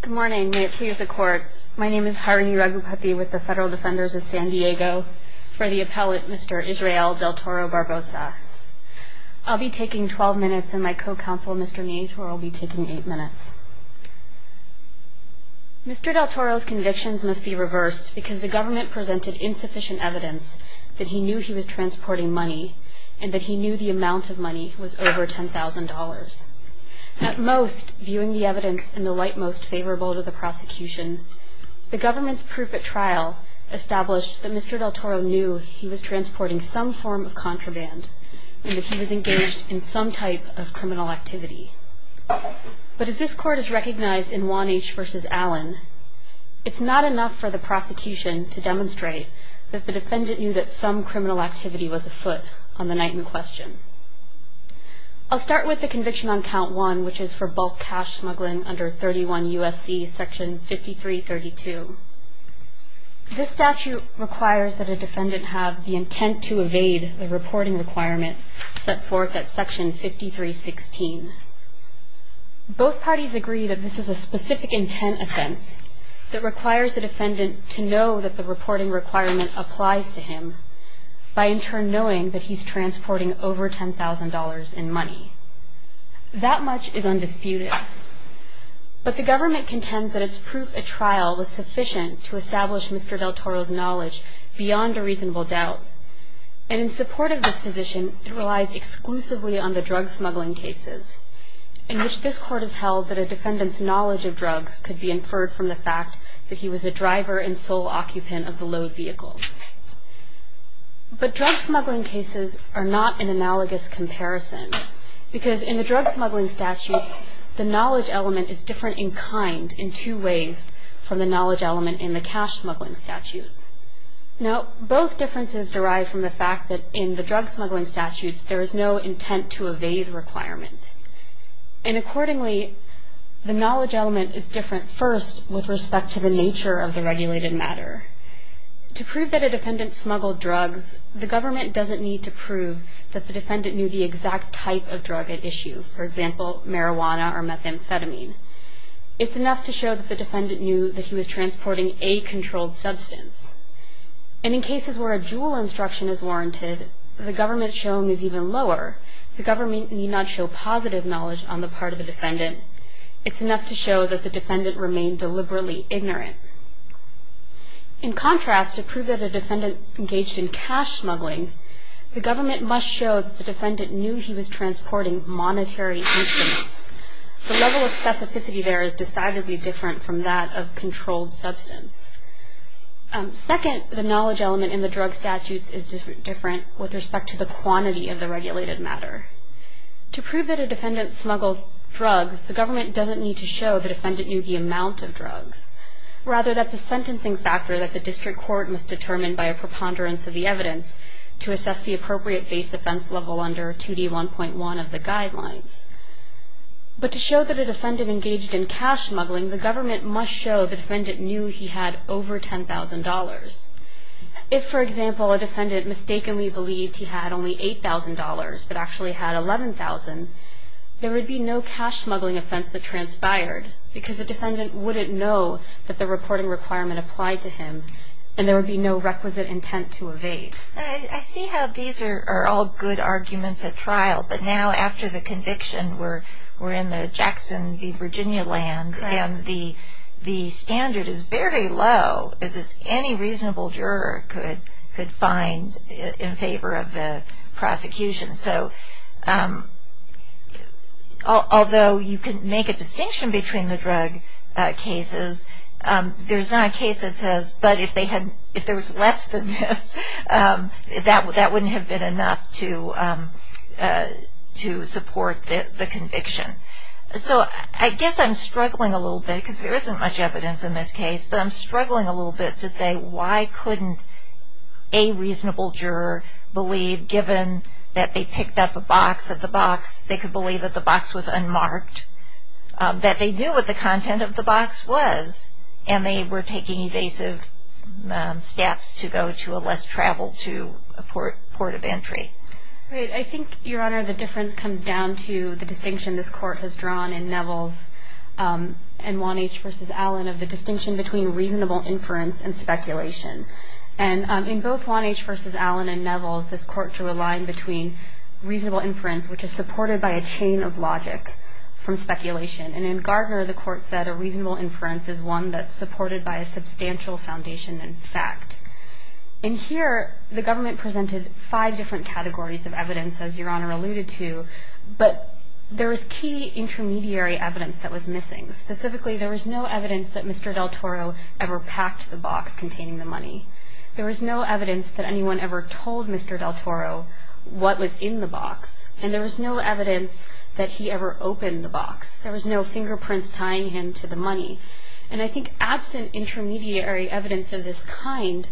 Good morning. May it please the Court, my name is Harini Raghupati with the Federal Defenders of San Diego for the appellate Mr. Israel Del Toro-Barboza. I'll be taking 12 minutes and my co-counsel Mr. Nieto will be taking 8 minutes. Mr. Del Toro's convictions must be reversed because the government presented insufficient evidence that he knew he was transporting money and that he knew the amount of money was over $10,000. At most, viewing the evidence in the light most favorable to the prosecution, the government's proof at trial established that Mr. Del Toro knew he was transporting some form of contraband and that he was engaged in some type of criminal activity. But as this Court has recognized in Juan H. v. Allen, it's not enough for the prosecution to demonstrate that the defendant knew that some criminal activity was afoot on the night in question. I'll start with the conviction on Count 1, which is for bulk cash smuggling under 31 U.S.C. Section 5332. This statute requires that a defendant have the intent to evade the reporting requirement set forth at Section 5316. Both parties agree that this is a specific intent offense that requires the defendant to know that the reporting requirement applies to him by in turn knowing that he's transporting over $10,000 in money. That much is undisputed. But the government contends that its proof at trial was sufficient to establish Mr. Del Toro's knowledge beyond a reasonable doubt. And in support of this position, it relies exclusively on the drug smuggling cases, in which this Court has held that a defendant's knowledge of drugs could be inferred from the fact that he was the driver and sole occupant of the load vehicle. But drug smuggling cases are not an analogous comparison, because in the drug smuggling statutes, the knowledge element is different in kind in two ways from the knowledge element in the cash smuggling statute. Now, both differences derive from the fact that in the drug smuggling statutes, there is no intent to evade requirement. And accordingly, the knowledge element is different. To prove that a defendant smuggled drugs, the government doesn't need to prove that the defendant knew the exact type of drug at issue, for example, marijuana or methamphetamine. It's enough to show that the defendant knew that he was transporting a controlled substance. And in cases where a JUUL instruction is warranted, the government's showing is even lower. The government need not show positive knowledge on the part of the defendant. It's enough to show that the defendant remained deliberately ignorant. In contrast, to prove that a defendant engaged in cash smuggling, the government must show that the defendant knew he was transporting monetary instruments. The level of specificity there is decidedly different from that of controlled substance. Second, the knowledge element in the drug statutes is different with respect to the quantity of the regulated matter. To prove that a defendant smuggled drugs, the government doesn't need to show the defendant knew the amount of drugs. Rather, that's a sentencing factor that the district court must determine by a preponderance of the evidence to assess the appropriate base offense level under 2D1.1 of the guidelines. But to show that a defendant engaged in cash smuggling, the government must show the defendant knew he had over $10,000. If, for example, a defendant mistakenly believed he had only $8,000 but actually had $11,000, there would be no cash smuggling offense that transpired because the defendant wouldn't know that the reporting requirement applied to him, and there would be no requisite intent to evade. I see how these are all good arguments at trial, but now after the conviction, we're in the Jackson v. Virginia land, and the standard is very low that any reasonable juror could find in favor of the prosecution. So, although you can make a distinction between the drug cases, there's not a case that says, but if there was less than this, that wouldn't have been enough to support the conviction. So, I guess I'm struggling a little bit, because there isn't much evidence in this case, but I'm struggling a little bit to say why couldn't a reasonable juror believe, given that they picked up a box at the box, they could believe that the box was unmarked, that they knew what the content of the box was, and they were taking evasive steps to go to a less-traveled-to port of entry. Great. I think, Your Honor, the difference comes down to the distinction this Court has drawn in Neville's N1H v. Allen of the distinction between reasonable inference and speculation. In both 1H v. Allen and Neville's, this Court drew a line between reasonable inference, which is supported by a chain of logic from speculation, and in Gardner, the Court said a reasonable inference is one that's supported by a substantial foundation in fact. In here, the government presented five different categories of evidence, as Your Honor alluded to, but there was key intermediary evidence that was missing. Specifically, there was no evidence that Mr. Del Toro ever packed the box containing the money. There was no evidence that anyone ever told Mr. Del Toro what was in the box, and there was no evidence that he ever opened the box. There was no fingerprints tying him to the money. And I think absent intermediary evidence of this kind,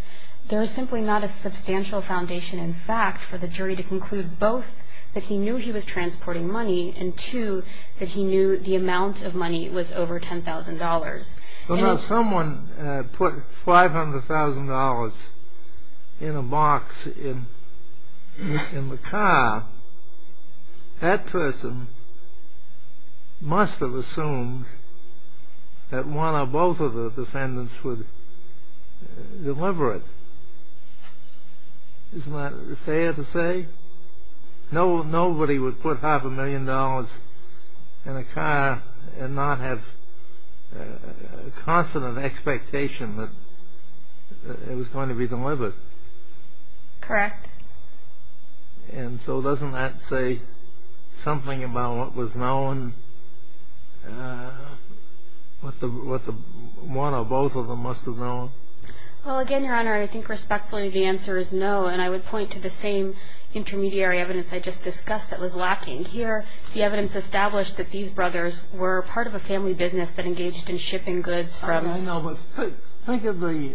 there is simply not a substantial foundation in fact for the jury to conclude both that he knew he was transporting money, and two, that he knew the amount of money was over $10,000. Well, now, someone put $500,000 in a box in the car. That person must have assumed that one or both of the defendants would deliver it. Isn't that fair to say? Nobody would put $500,000 in a car and not have a constant expectation that it was going to be delivered. Correct. And so doesn't that say something about what was known, what one or both of them must have known? Well, again, Your Honor, I think respectfully the answer is no, and I would point to the same intermediary evidence I just discussed that was lacking. Here, the evidence established that these brothers were part of a family business that engaged in shipping goods from… I know, but think of the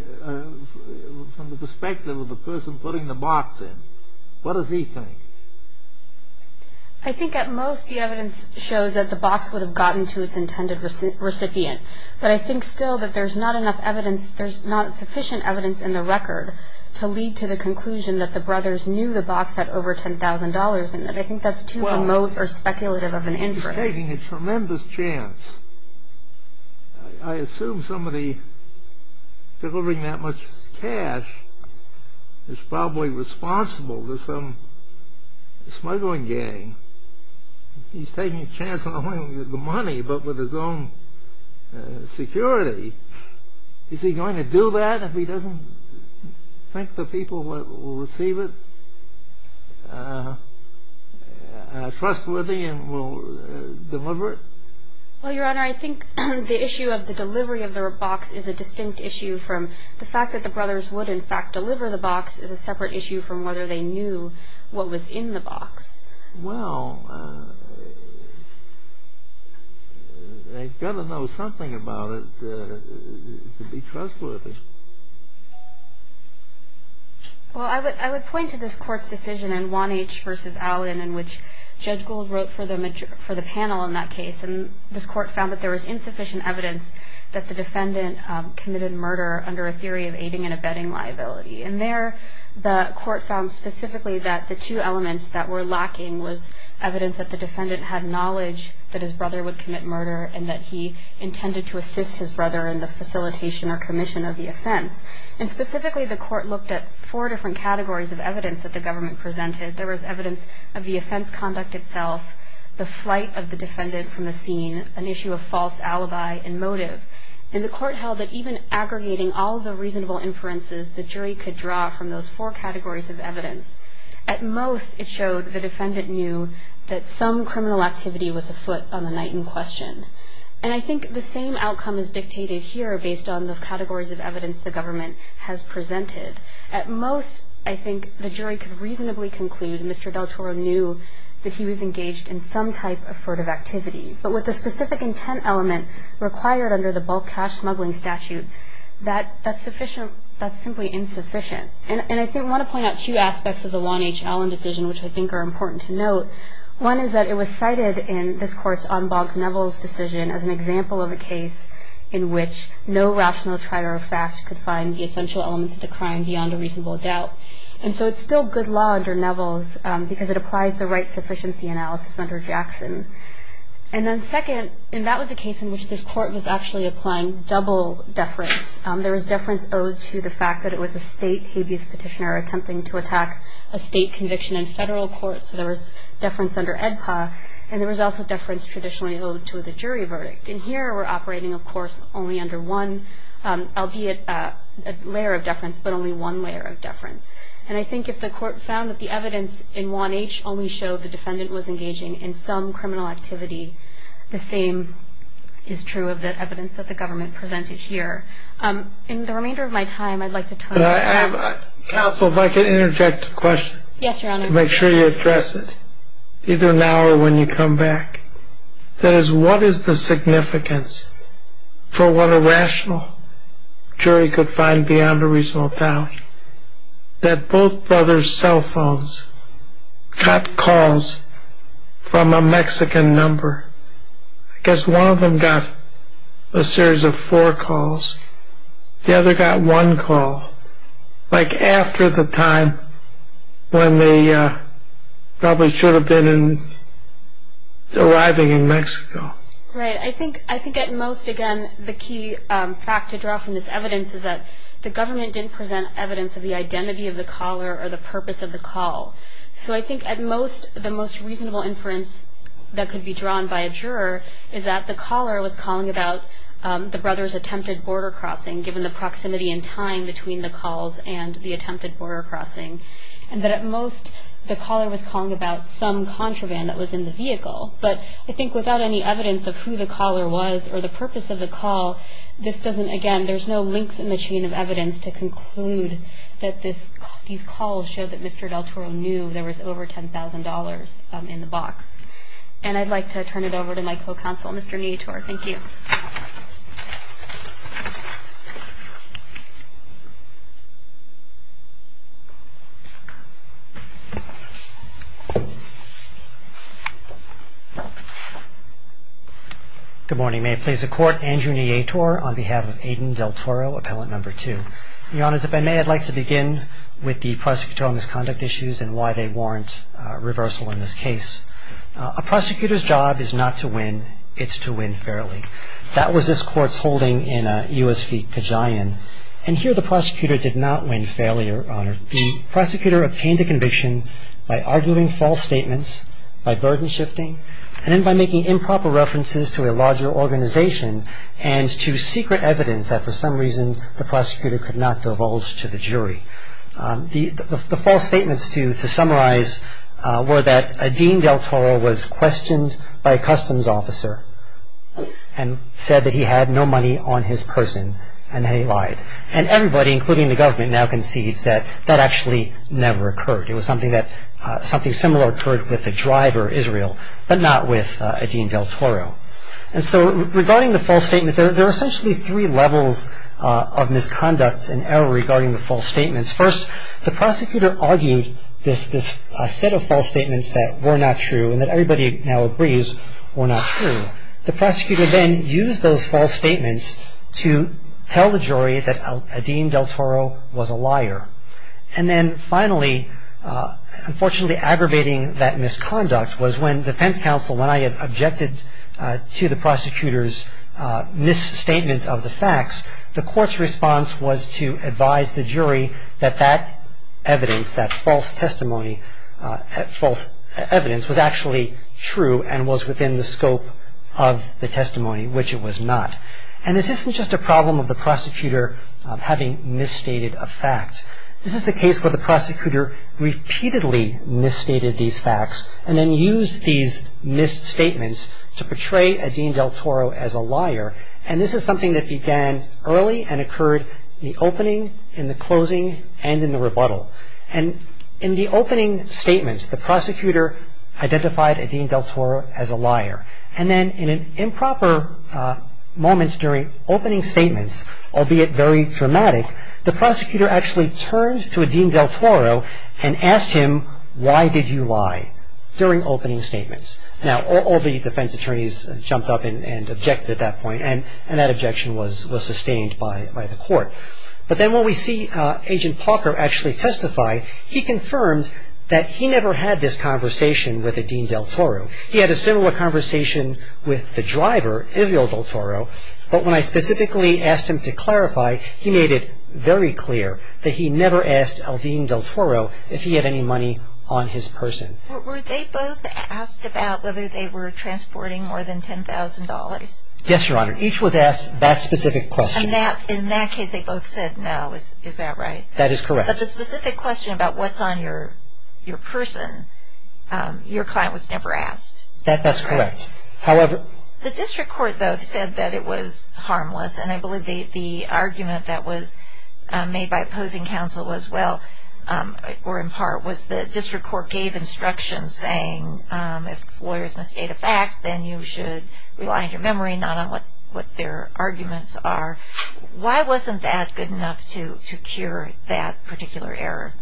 perspective of the person putting the box in. What does he think? I think at most the evidence shows that the box would have gotten to its intended recipient. But I think still that there's not enough evidence, there's not sufficient evidence in the record to lead to the conclusion that the brothers knew the box had over $10,000 in it. I think that's too remote or speculative of an inference. Well, he's taking a tremendous chance. I assume somebody delivering that much cash is probably responsible to some smuggling gang. He's taking a chance not only with the money but with his own security. Is he going to do that if he doesn't think the people who will receive it are trustworthy and will deliver it? Well, Your Honor, I think the issue of the delivery of the box is a distinct issue from the fact that the brothers would, in fact, deliver the box is a separate issue from whether they knew what was in the box. Well, they've got to know something about it to be trustworthy. Well, I would point to this Court's decision in Wannach v. Allen in which Judge Gould wrote for the panel in that case. And this Court found that there was insufficient evidence that the defendant committed murder under a theory of aiding and abetting liability. In there, the Court found specifically that the two elements that were lacking was evidence that the defendant had knowledge that his brother would commit murder and that he intended to assist his brother in the facilitation or commission of the offense. And specifically, the Court looked at four different categories of evidence that the government presented. There was evidence of the offense conduct itself, the flight of the defendant from the scene, an issue of false alibi and motive. And the Court held that even aggregating all the reasonable inferences the jury could draw from those four categories of evidence, at most it showed the defendant knew that some criminal activity was afoot on the night in question. And I think the same outcome is dictated here based on the categories of evidence the government has presented. At most, I think the jury could reasonably conclude Mr. Del Toro knew that he was engaged in some type of furtive activity. But with the specific intent element required under the bulk cash smuggling statute, that's simply insufficient. And I want to point out two aspects of the Juan H. Allen decision which I think are important to note. One is that it was cited in this Court's en banc Neville's decision as an example of a case in which no rational trier of fact could find the essential elements of the crime beyond a reasonable doubt. And so it's still good law under Neville's because it applies the right sufficiency analysis under Jackson. And then second, and that was the case in which this Court was actually applying double deference. There was deference owed to the fact that it was a state habeas petitioner attempting to attack a state conviction in federal court. So there was deference under EDPA and there was also deference traditionally owed to the jury verdict. And here we're operating, of course, only under one, albeit a layer of deference, but only one layer of deference. And I think if the Court found that the evidence in Juan H. only showed the defendant was engaging in some criminal activity, the same is true of the evidence that the government presented here. In the remainder of my time, I'd like to turn to... Counsel, if I could interject a question. Yes, Your Honor. Make sure you address it, either now or when you come back. That is, what is the significance for what a rational jury could find beyond a reasonable doubt that both brothers' cell phones got calls from a Mexican number? I guess one of them got a series of four calls. The other got one call, like after the time when they probably should have been arriving in Mexico. Right. I think at most, again, the key fact to draw from this evidence is that the government didn't present evidence of the identity of the caller or the purpose of the call. So I think at most, the most reasonable inference that could be drawn by a juror is that the caller was calling about the brothers' attempted border crossing, given the proximity in time between the calls and the attempted border crossing. And that at most, the caller was calling about some contraband that was in the vehicle. But I think without any evidence of who the caller was or the purpose of the call, this doesn't, again, there's no links in the chain of evidence to conclude that these calls show that Mr. Del Toro knew there was over $10,000 in the box. And I'd like to turn it over to my co-counsel, Mr. Nitor. Thank you. Good morning. May it please the Court, Andrew Nitor on behalf of Aidan Del Toro, Appellant Number 2. Your Honors, if I may, I'd like to begin with the prosecutor on his conduct issues and why they warrant reversal in this case. A prosecutor's job is not to win. It's to win fairly. That was this Court's holding in U.S. v. Kajian. And here the prosecutor did not win fairly, Your Honor. The prosecutor obtained a conviction by arguing false statements, by burden shifting, and then by making improper references to a larger organization and to secret evidence that for some reason the prosecutor could not divulge to the jury. The false statements to summarize were that Aidan Del Toro was questioned by a customs officer and said that he had no money on his person and that he lied. And everybody, including the government, now concedes that that actually never occurred. It was something similar occurred with the driver, Israel, but not with Aidan Del Toro. And so regarding the false statements, there are essentially three levels of misconducts and error regarding the false statements. First, the prosecutor argued this set of false statements that were not true and that everybody now agrees were not true. The prosecutor then used those false statements to tell the jury that Aidan Del Toro was a liar. And then finally, unfortunately, aggravating that misconduct was when defense counsel, when I objected to the prosecutor's misstatement of the facts, the court's response was to advise the jury that that evidence, that false testimony, false evidence was actually true and was within the scope of the testimony, which it was not. And this isn't just a problem of the prosecutor having misstated a fact. This is a case where the prosecutor repeatedly misstated these facts and then used these misstatements to portray Aidan Del Toro as a liar. And this is something that began early and occurred in the opening, in the closing, and in the rebuttal. And in the opening statements, the prosecutor identified Aidan Del Toro as a liar. And then in an improper moment during opening statements, albeit very dramatic, the prosecutor actually turned to Aidan Del Toro and asked him, why did you lie during opening statements? Now, all the defense attorneys jumped up and objected at that point, and that objection was sustained by the court. But then when we see Agent Parker actually testify, he confirmed that he never had this conversation with Aidan Del Toro. He had a similar conversation with the driver, Israel Del Toro, but when I specifically asked him to clarify, he made it very clear that he never asked Alvin Del Toro if he had any money on his person. Were they both asked about whether they were transporting more than $10,000? Yes, Your Honor. Each was asked that specific question. In that case, they both said no. Is that right? That is correct. But the specific question about what's on your person, your client was never asked. That's correct. The district court both said that it was harmless, and I believe the argument that was made by opposing counsel as well, or in part, was the district court gave instructions saying if lawyers misstate a fact, then you should rely on your memory, not on what their arguments are. Why wasn't that good enough to cure that particular error?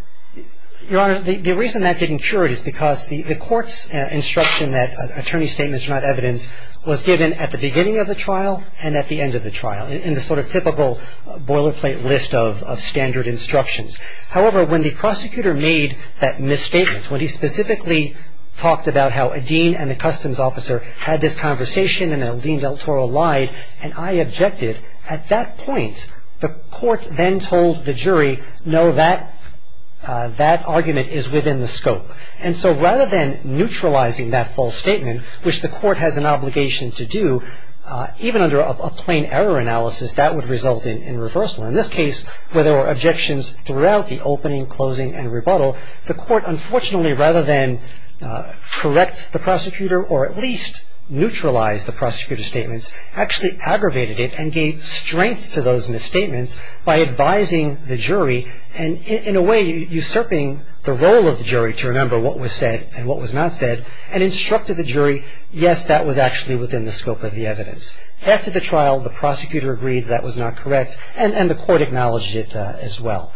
Your Honor, the reason that didn't cure it is because the court's instruction that attorney statements are not evidence was given at the beginning of the trial and at the end of the trial in the sort of typical boilerplate list of standard instructions. However, when the prosecutor made that misstatement, when he specifically talked about how a dean and a customs officer had this conversation and Alvin Del Toro lied, and I objected, at that point the court then told the jury, no, that argument is within the scope. And so rather than neutralizing that false statement, which the court has an obligation to do, even under a plain error analysis, that would result in reversal. In this case, where there were objections throughout the opening, closing, and rebuttal, the court, unfortunately, rather than correct the prosecutor or at least neutralize the prosecutor's statements, actually aggravated it and gave strength to those misstatements by advising the jury and in a way usurping the role of the jury to remember what was said and what was not said and instructed the jury, yes, that was actually within the scope of the evidence. After the trial, the prosecutor agreed that was not correct and the court acknowledged it as well.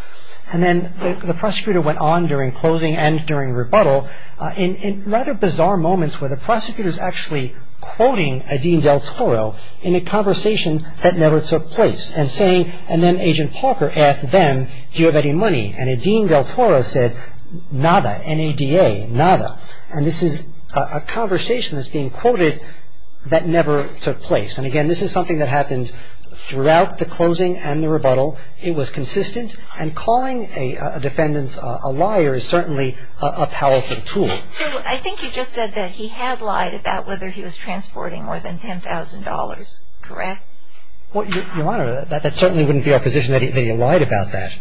And then the prosecutor went on during closing and during rebuttal in rather bizarre moments where the prosecutor's actually quoting a Dean Del Toro in a conversation that never took place and saying, and then Agent Parker asked them, do you have any money? And a Dean Del Toro said, nada, N-A-D-A, nada. And this is a conversation that's being quoted that never took place. And again, this is something that happened throughout the closing and the rebuttal. It was consistent. And calling a defendant a liar is certainly a powerful tool. So I think you just said that he had lied about whether he was transporting more than $10,000, correct? Your Honor, that certainly wouldn't be our position that he lied about that.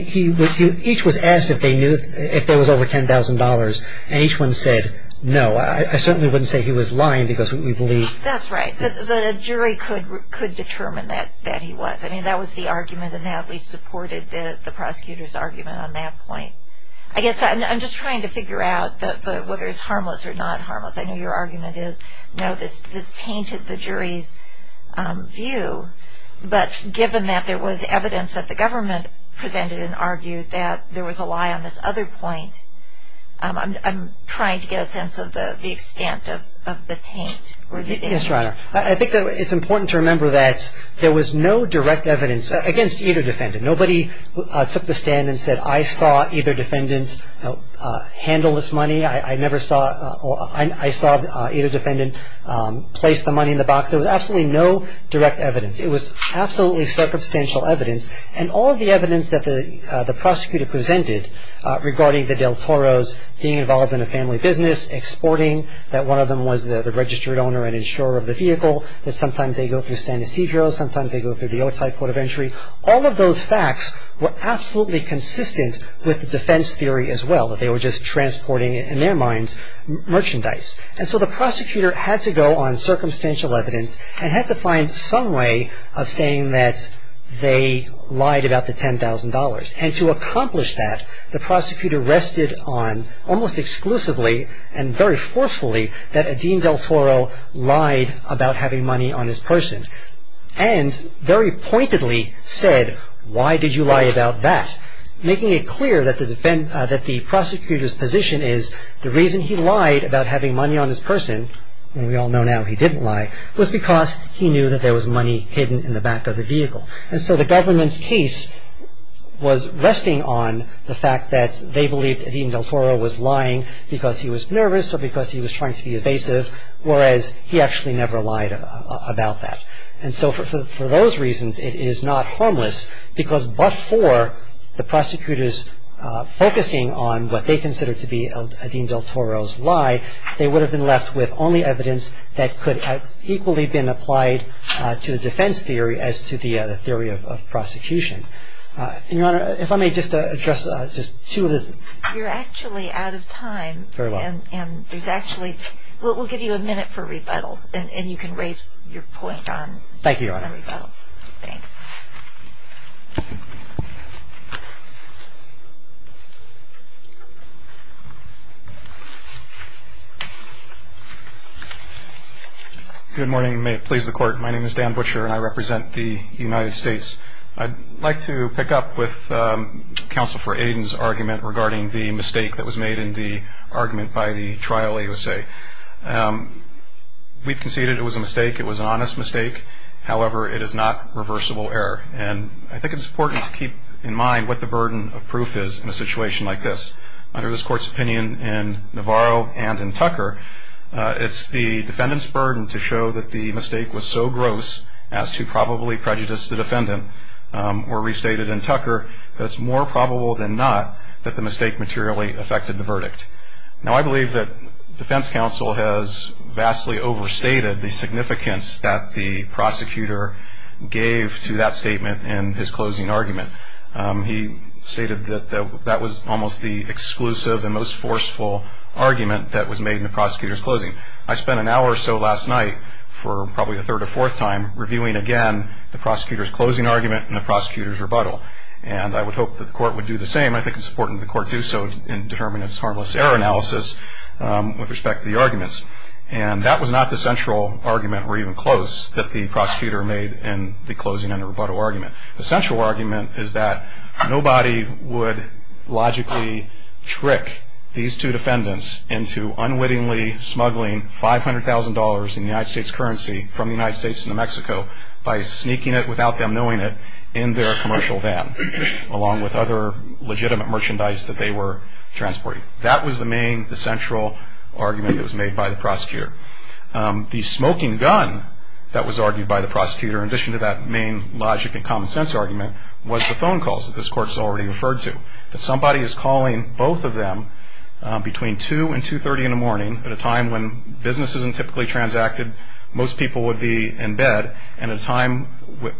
Each was asked if there was over $10,000, and each one said no. I certainly wouldn't say he was lying because we believe. That's right. The jury could determine that he was. I mean, that was the argument, and that at least supported the prosecutor's argument on that point. I guess I'm just trying to figure out whether it's harmless or not harmless. I know your argument is, no, this tainted the jury's view. But given that there was evidence that the government presented and argued that there was a lie on this other point, I'm trying to get a sense of the extent of the taint. Yes, Your Honor. I think it's important to remember that there was no direct evidence against either defendant. Nobody took the stand and said, I saw either defendant handle this money. I never saw or I saw either defendant place the money in the box. There was absolutely no direct evidence. It was absolutely circumstantial evidence, and all of the evidence that the prosecutor presented regarding the del Toros being involved in a family business, exporting, that one of them was the registered owner and insurer of the vehicle, that sometimes they go through San Ysidro, sometimes they go through the Otay Port of Entry, all of those facts were absolutely consistent with the defense theory as well, that they were just transporting, in their minds, merchandise. And so the prosecutor had to go on circumstantial evidence and had to find some way of saying that they lied about the $10,000. And to accomplish that, the prosecutor rested on almost exclusively and very forcefully that a Dean del Toro lied about having money on his person, and very pointedly said, why did you lie about that, making it clear that the prosecutor's position is, the reason he lied about having money on his person, and we all know now he didn't lie, was because he knew that there was money hidden in the back of the vehicle. And so the government's case was resting on the fact that they believed that Dean del Toro was lying because he was nervous or because he was trying to be evasive, whereas he actually never lied about that. And so for those reasons, it is not harmless, because before the prosecutors focusing on what they considered to be a Dean del Toro's lie, they would have been left with only evidence that could have equally been applied to the defense theory as to the theory of prosecution. And, Your Honor, if I may just address just two of the You're actually out of time. Very well. And there's actually, we'll give you a minute for rebuttal, and you can raise your point on rebuttal. Thank you, Your Honor. Thanks. Good morning, and may it please the Court. My name is Dan Butcher, and I represent the United States. I'd like to pick up with Counsel for Aiden's argument regarding the mistake that was made in the argument by the trial USA. We've conceded it was a mistake. It was an honest mistake. However, it is not reversible error, and I think it's important to keep in mind what the burden of proof is in a situation like this. Under this Court's opinion in Navarro and in Tucker, it's the defendant's burden to show that the mistake was so gross as to probably prejudice the defendant, or restated in Tucker, that it's more probable than not that the mistake materially affected the verdict. Now, I believe that defense counsel has vastly overstated the significance that the prosecutor gave to that statement in his closing argument. He stated that that was almost the exclusive and most forceful argument that was made in the prosecutor's closing. I spent an hour or so last night for probably the third or fourth time reviewing again the prosecutor's closing argument and the prosecutor's rebuttal, and I would hope that the Court would do the same. I think it's important that the Court do so in determining its harmless error analysis with respect to the arguments, and that was not the central argument or even close that the prosecutor made in the closing and the rebuttal argument. The central argument is that nobody would logically trick these two defendants into unwittingly smuggling $500,000 in United States currency from the United States to New Mexico by sneaking it without them knowing it in their commercial van, along with other legitimate merchandise that they were transporting. That was the main, the central argument that was made by the prosecutor. The smoking gun that was argued by the prosecutor, in addition to that main logic and common sense argument, was the phone calls that this Court has already referred to. That somebody is calling both of them between 2 and 2.30 in the morning, at a time when business isn't typically transacted, most people would be in bed, and a time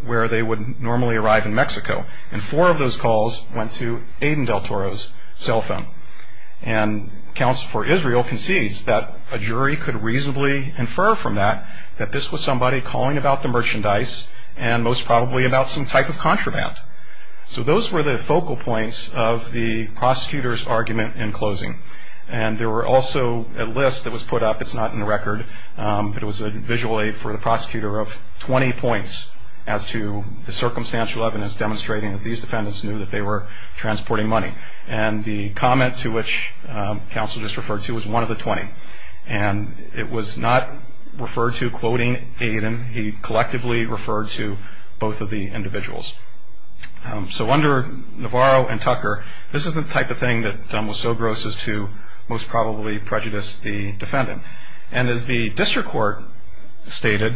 where they would normally arrive in Mexico. And four of those calls went to Aiden Del Toro's cell phone. And counsel for Israel concedes that a jury could reasonably infer from that that this was somebody calling about the merchandise and most probably about some type of contraband. So those were the focal points of the prosecutor's argument in closing. And there were also a list that was put up, it's not in the record, but it was a visual aid for the prosecutor of 20 points as to the circumstantial evidence demonstrating that these defendants knew that they were transporting money. And the comment to which counsel just referred to was one of the 20. And it was not referred to quoting Aiden. He collectively referred to both of the individuals. So under Navarro and Tucker, this is the type of thing that was so gross as to most probably prejudice the defendant. And as the district court stated,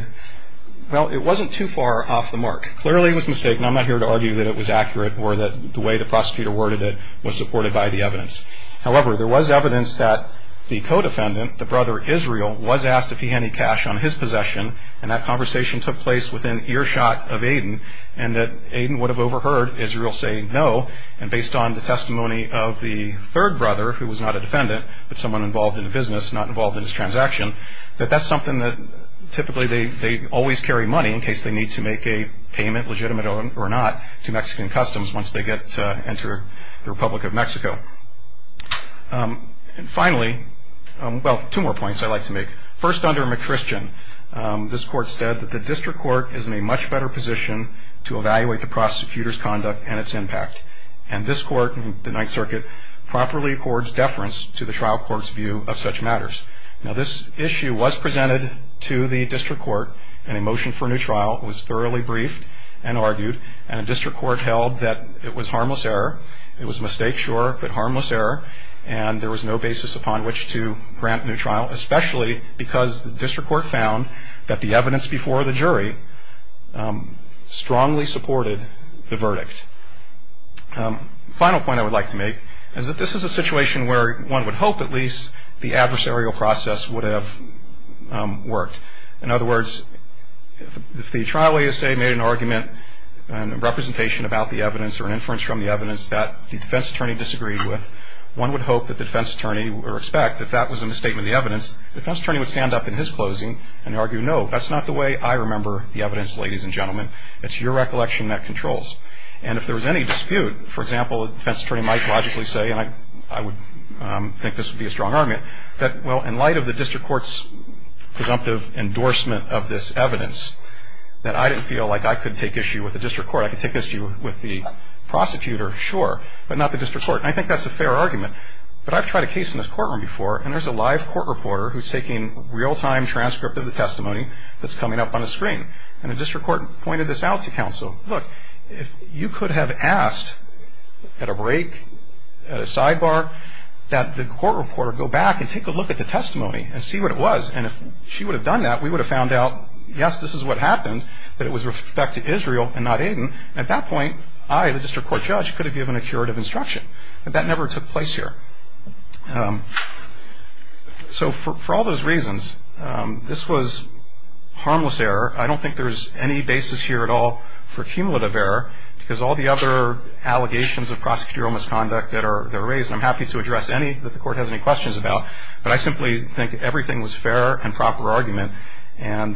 well, it wasn't too far off the mark. Clearly it was a mistake, and I'm not here to argue that it was accurate or that the way the prosecutor worded it was supported by the evidence. However, there was evidence that the co-defendant, the brother Israel, was asked if he had any cash on his possession. And that conversation took place within earshot of Aiden, and that Aiden would have overheard Israel say no. And based on the testimony of the third brother, who was not a defendant, but someone involved in the business, not involved in his transaction, that that's something that typically they always carry money in case they need to make a payment, legitimate or not, to Mexican customs once they get to enter the Republic of Mexico. And finally, well, two more points I'd like to make. First, under McChristian, this court said that the district court is in a much better position to evaluate the prosecutor's conduct and its impact. And this court, the Ninth Circuit, properly accords deference to the trial court's view of such matters. Now, this issue was presented to the district court in a motion for a new trial. It was thoroughly briefed and argued. And the district court held that it was harmless error. It was a mistake, sure, but harmless error. And there was no basis upon which to grant a new trial, especially because the district court found that the evidence before the jury strongly supported the verdict. The final point I would like to make is that this is a situation where one would hope at least the adversarial process would have worked. In other words, if the trial ASA made an argument and a representation about the evidence or an inference from the evidence that the defense attorney disagreed with, one would hope that the defense attorney would respect that that was in the statement of the evidence. The defense attorney would stand up in his closing and argue, no, that's not the way I remember the evidence, ladies and gentlemen. It's your recollection that controls. And if there was any dispute, for example, the defense attorney might logically say, and I would think this would be a strong argument, that, well, in light of the district court's presumptive endorsement of this evidence, that I didn't feel like I could take issue with the district court. I could take issue with the prosecutor, sure, but not the district court. And I think that's a fair argument. But I've tried a case in this courtroom before, and there's a live court reporter who's taking real-time transcript of the testimony that's coming up on the screen. And the district court pointed this out to counsel. Look, you could have asked at a break, at a sidebar, that the court reporter go back and take a look at the testimony and see what it was. And if she would have done that, we would have found out, yes, this is what happened, that it was with respect to Israel and not Aiden. At that point, I, the district court judge, could have given a curative instruction. But that never took place here. So for all those reasons, this was harmless error. I don't think there's any basis here at all for cumulative error, because all the other allegations of prosecutorial misconduct that are raised, and I'm happy to address any that the court has any questions about, but I simply think everything was fair and proper argument. And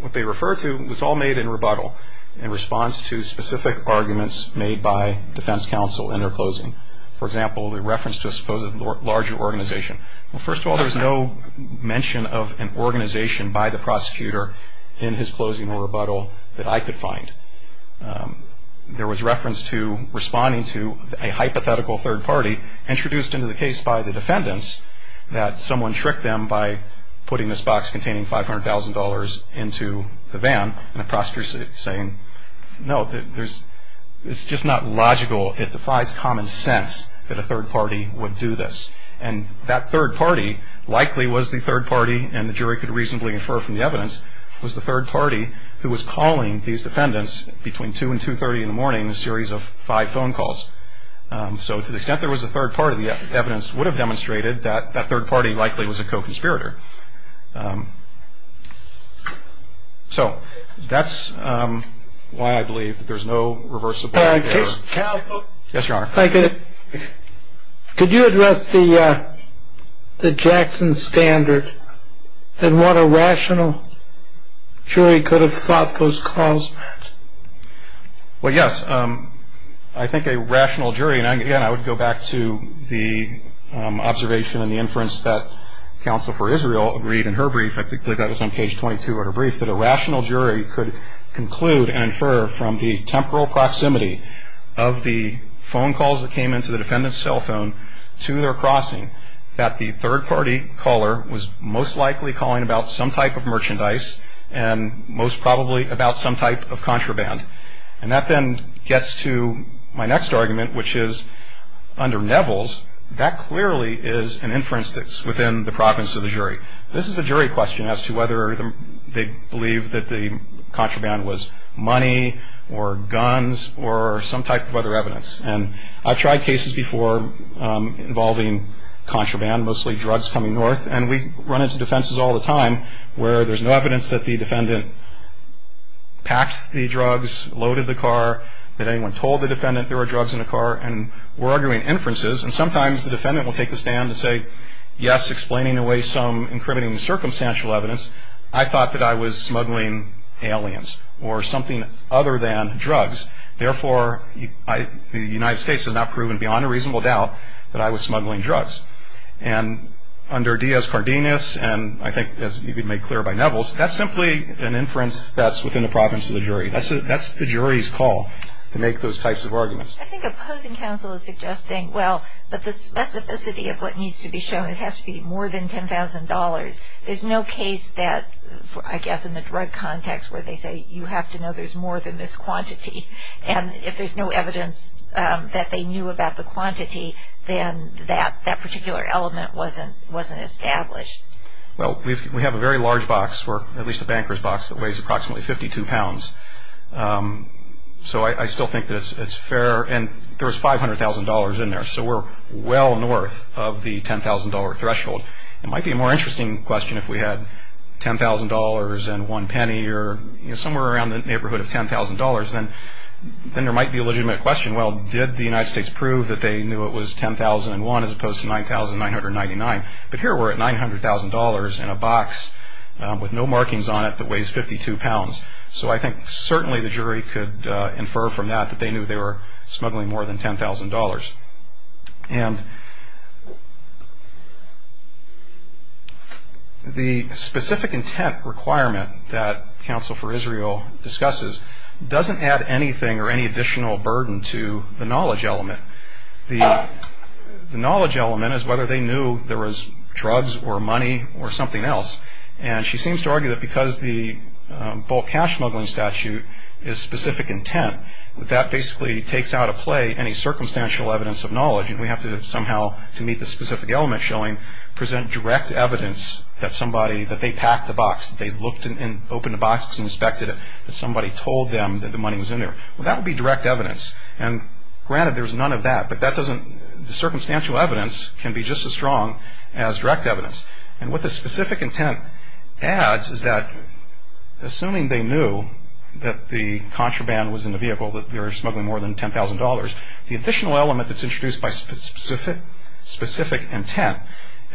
what they refer to was all made in rebuttal in response to specific arguments made by defense counsel in their closing. For example, the reference to a supposed larger organization. Well, first of all, there was no mention of an organization by the prosecutor in his closing or rebuttal that I could find. There was reference to responding to a hypothetical third party introduced into the case by the defendants that someone tricked them by putting this box containing $500,000 into the van, and the prosecutor saying, no, it's just not logical. It defies common sense that a third party would do this. And that third party likely was the third party, and the jury could reasonably infer from the evidence, was the third party who was calling these defendants between 2 and 2.30 in the morning in a series of five phone calls. So to the extent there was a third party, the evidence would have demonstrated that that third party likely was a co-conspirator. So that's why I believe that there's no reverse support. Yes, Your Honor. Could you address the Jackson standard and what a rational jury could have thought those calls meant? Well, yes, I think a rational jury, and again, I would go back to the observation and the inference that counsel for Israel agreed in her brief, I think they got this on page 22 of her brief, that a rational jury could conclude and infer from the temporal proximity of the phone calls that came into the defendant's cell phone to their crossing that the third party caller was most likely calling about some type of merchandise and most probably about some type of contraband. And that then gets to my next argument, which is under Neville's, that clearly is an inference that's within the province of the jury. This is a jury question as to whether they believe that the contraband was money or guns or some type of other evidence. And I've tried cases before involving contraband, mostly drugs coming north, and we run into defenses all the time where there's no evidence that the defendant packed the drugs, loaded the car, that anyone told the defendant there were drugs in the car, and we're arguing inferences. And sometimes the defendant will take a stand and say, yes, explaining away some incriminating circumstantial evidence, I thought that I was smuggling aliens or something other than drugs. Therefore, the United States has now proven beyond a reasonable doubt that I was smuggling drugs. And under Diaz-Cardenas, and I think as may be made clear by Neville's, that's simply an inference that's within the province of the jury. That's the jury's call to make those types of arguments. I think opposing counsel is suggesting, well, but the specificity of what needs to be shown, it has to be more than $10,000. There's no case that, I guess, in the drug context where they say you have to know there's more than this quantity, and if there's no evidence that they knew about the quantity, then that particular element wasn't established. Well, we have a very large box, or at least a banker's box, that weighs approximately 52 pounds. So I still think that it's fair, and there was $500,000 in there, so we're well north of the $10,000 threshold. It might be a more interesting question if we had $10,000 and one penny, or somewhere around the neighborhood of $10,000, then there might be a legitimate question. Well, did the United States prove that they knew it was 10,001 as opposed to 9,999? But here we're at $900,000 in a box with no markings on it that weighs 52 pounds. So I think certainly the jury could infer from that that they knew they were smuggling more than $10,000. And the specific intent requirement that Counsel for Israel discusses doesn't add anything or any additional burden to the knowledge element. The knowledge element is whether they knew there was drugs or money or something else, and she seems to argue that because the bulk cash smuggling statute is specific intent, that basically takes out of play any circumstantial evidence of knowledge, and we have to somehow, to meet the specific element showing, present direct evidence that somebody, that they packed the box, that they looked and opened the box and inspected it, that somebody told them that the money was in there. Well, that would be direct evidence, and granted there's none of that, but that doesn't, the circumstantial evidence can be just as strong as direct evidence. And what the specific intent adds is that assuming they knew that the contraband was in the vehicle, that they were smuggling more than $10,000, the additional element that's introduced by specific intent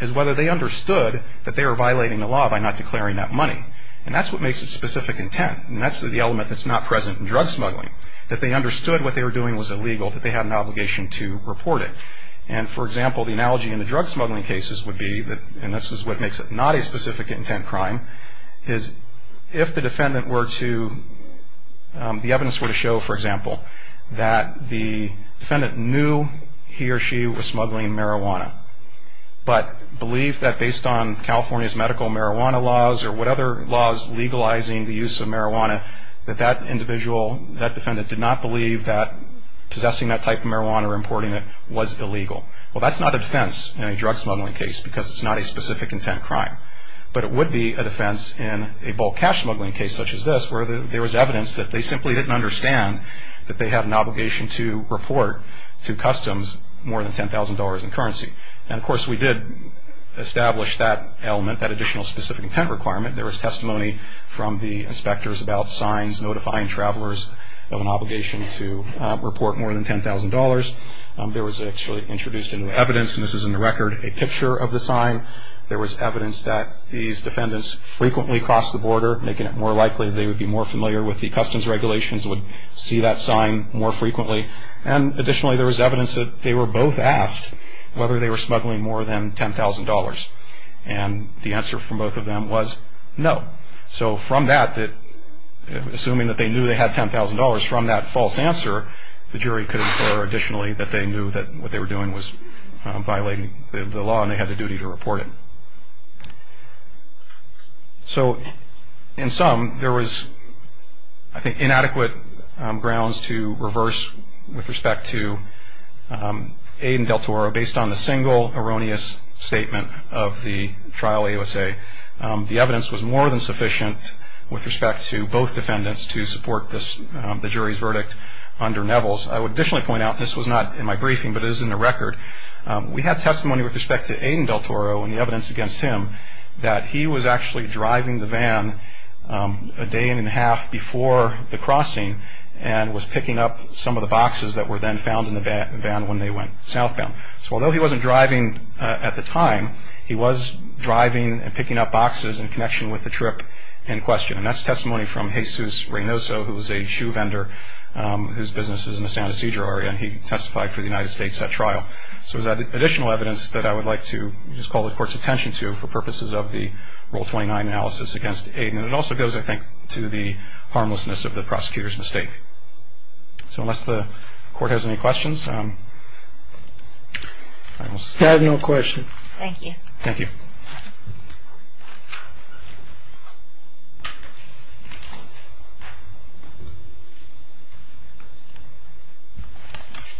is whether they understood that they were violating the law by not declaring that money. And that's what makes it specific intent, and that's the element that's not present in drug smuggling, that they understood what they were doing was illegal, that they had an obligation to report it. And, for example, the analogy in the drug smuggling cases would be, and this is what makes it not a specific intent crime, is if the defendant were to, the evidence were to show, for example, that the defendant knew he or she was smuggling marijuana, but believed that based on California's medical marijuana laws or what other laws legalizing the use of marijuana, that that individual, that defendant did not believe that possessing that type of marijuana or importing it was illegal. Well, that's not a defense in a drug smuggling case, because it's not a specific intent crime. But it would be a defense in a bulk cash smuggling case such as this, where there was evidence that they simply didn't understand that they had an obligation to report to customs more than $10,000 in currency. And, of course, we did establish that element, that additional specific intent requirement. There was testimony from the inspectors about signs notifying travelers of an obligation to report more than $10,000. There was actually introduced into evidence, and this is in the record, a picture of the sign. There was evidence that these defendants frequently crossed the border, making it more likely they would be more familiar with the customs regulations, would see that sign more frequently. And, additionally, there was evidence that they were both asked whether they were smuggling more than $10,000. And the answer from both of them was no. So, from that, assuming that they knew they had $10,000, from that false answer, the jury could infer additionally that they knew that what they were doing was violating the law and they had a duty to report it. So, in sum, there was, I think, inadequate grounds to reverse with respect to aid and del Toro, based on the single erroneous statement of the trial AUSA. The evidence was more than sufficient with respect to both defendants to support the jury's verdict under Neville's. I would additionally point out, this was not in my briefing, but it is in the record, we had testimony with respect to aid and del Toro and the evidence against him that he was actually driving the van a day and a half before the crossing and was picking up some of the boxes that were then found in the van when they went southbound. So, although he wasn't driving at the time, he was driving and picking up boxes in connection with the trip in question. And that's testimony from Jesus Reynoso, who was a shoe vendor, whose business was in the San Ysidro area, and he testified for the United States at trial. So, it was additional evidence that I would like to just call the Court's attention to for purposes of the Rule 29 analysis against aid. And it also goes, I think, to the harmlessness of the prosecutor's mistake. So, unless the Court has any questions, I will start. I have no questions. Thank you. Thank you.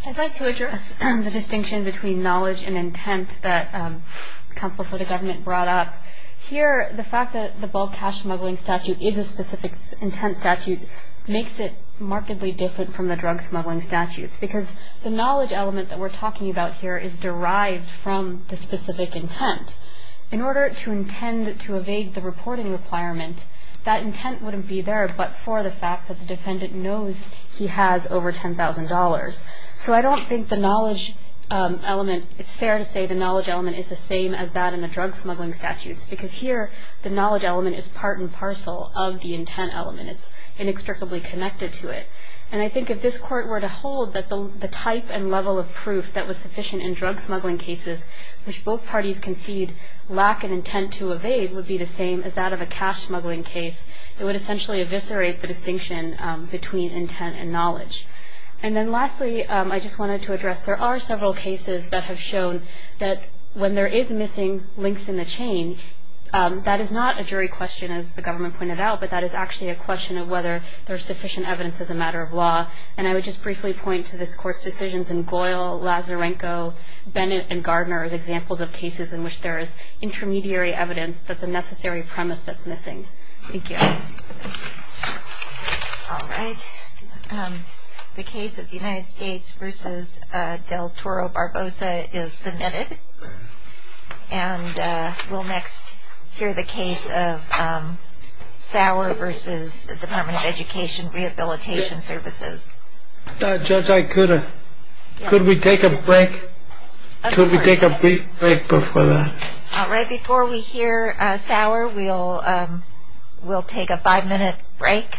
I'd like to address the distinction between knowledge and intent that Counsel for the Government brought up. Here, the fact that the bulk cash smuggling statute is a specific intent statute makes it markedly different from the drug smuggling statutes, because the knowledge element that we're talking about here is derived from the specific intent. In order to intend to evade the reporting requirement, that intent wouldn't be there but for the fact that the defendant knows he has over $10,000. So, I don't think the knowledge element, it's fair to say the knowledge element is the same as that in the drug smuggling statutes, because here the knowledge element is part and parcel of the intent element. It's inextricably connected to it. And I think if this Court were to hold that the type and level of proof that was sufficient in drug smuggling cases, which both parties concede lack an intent to evade, would be the same as that of a cash smuggling case, it would essentially eviscerate the distinction between intent and knowledge. And then lastly, I just wanted to address, there are several cases that have shown that when there is missing links in the chain, that is not a jury question, as the government pointed out, but that is actually a question of whether there's sufficient evidence as a matter of law. And I would just briefly point to this Court's decisions in Goyle, Lazarenko, Bennett, and Gardner as examples of cases in which there is intermediary evidence that's a necessary premise that's missing. Thank you. All right. The case of the United States v. del Toro Barbosa is submitted. And we'll next hear the case of Sauer v. Department of Education Rehabilitation Services. Judge, could we take a break? Could we take a brief break before that? Right before we hear Sauer, we'll take a five-minute break.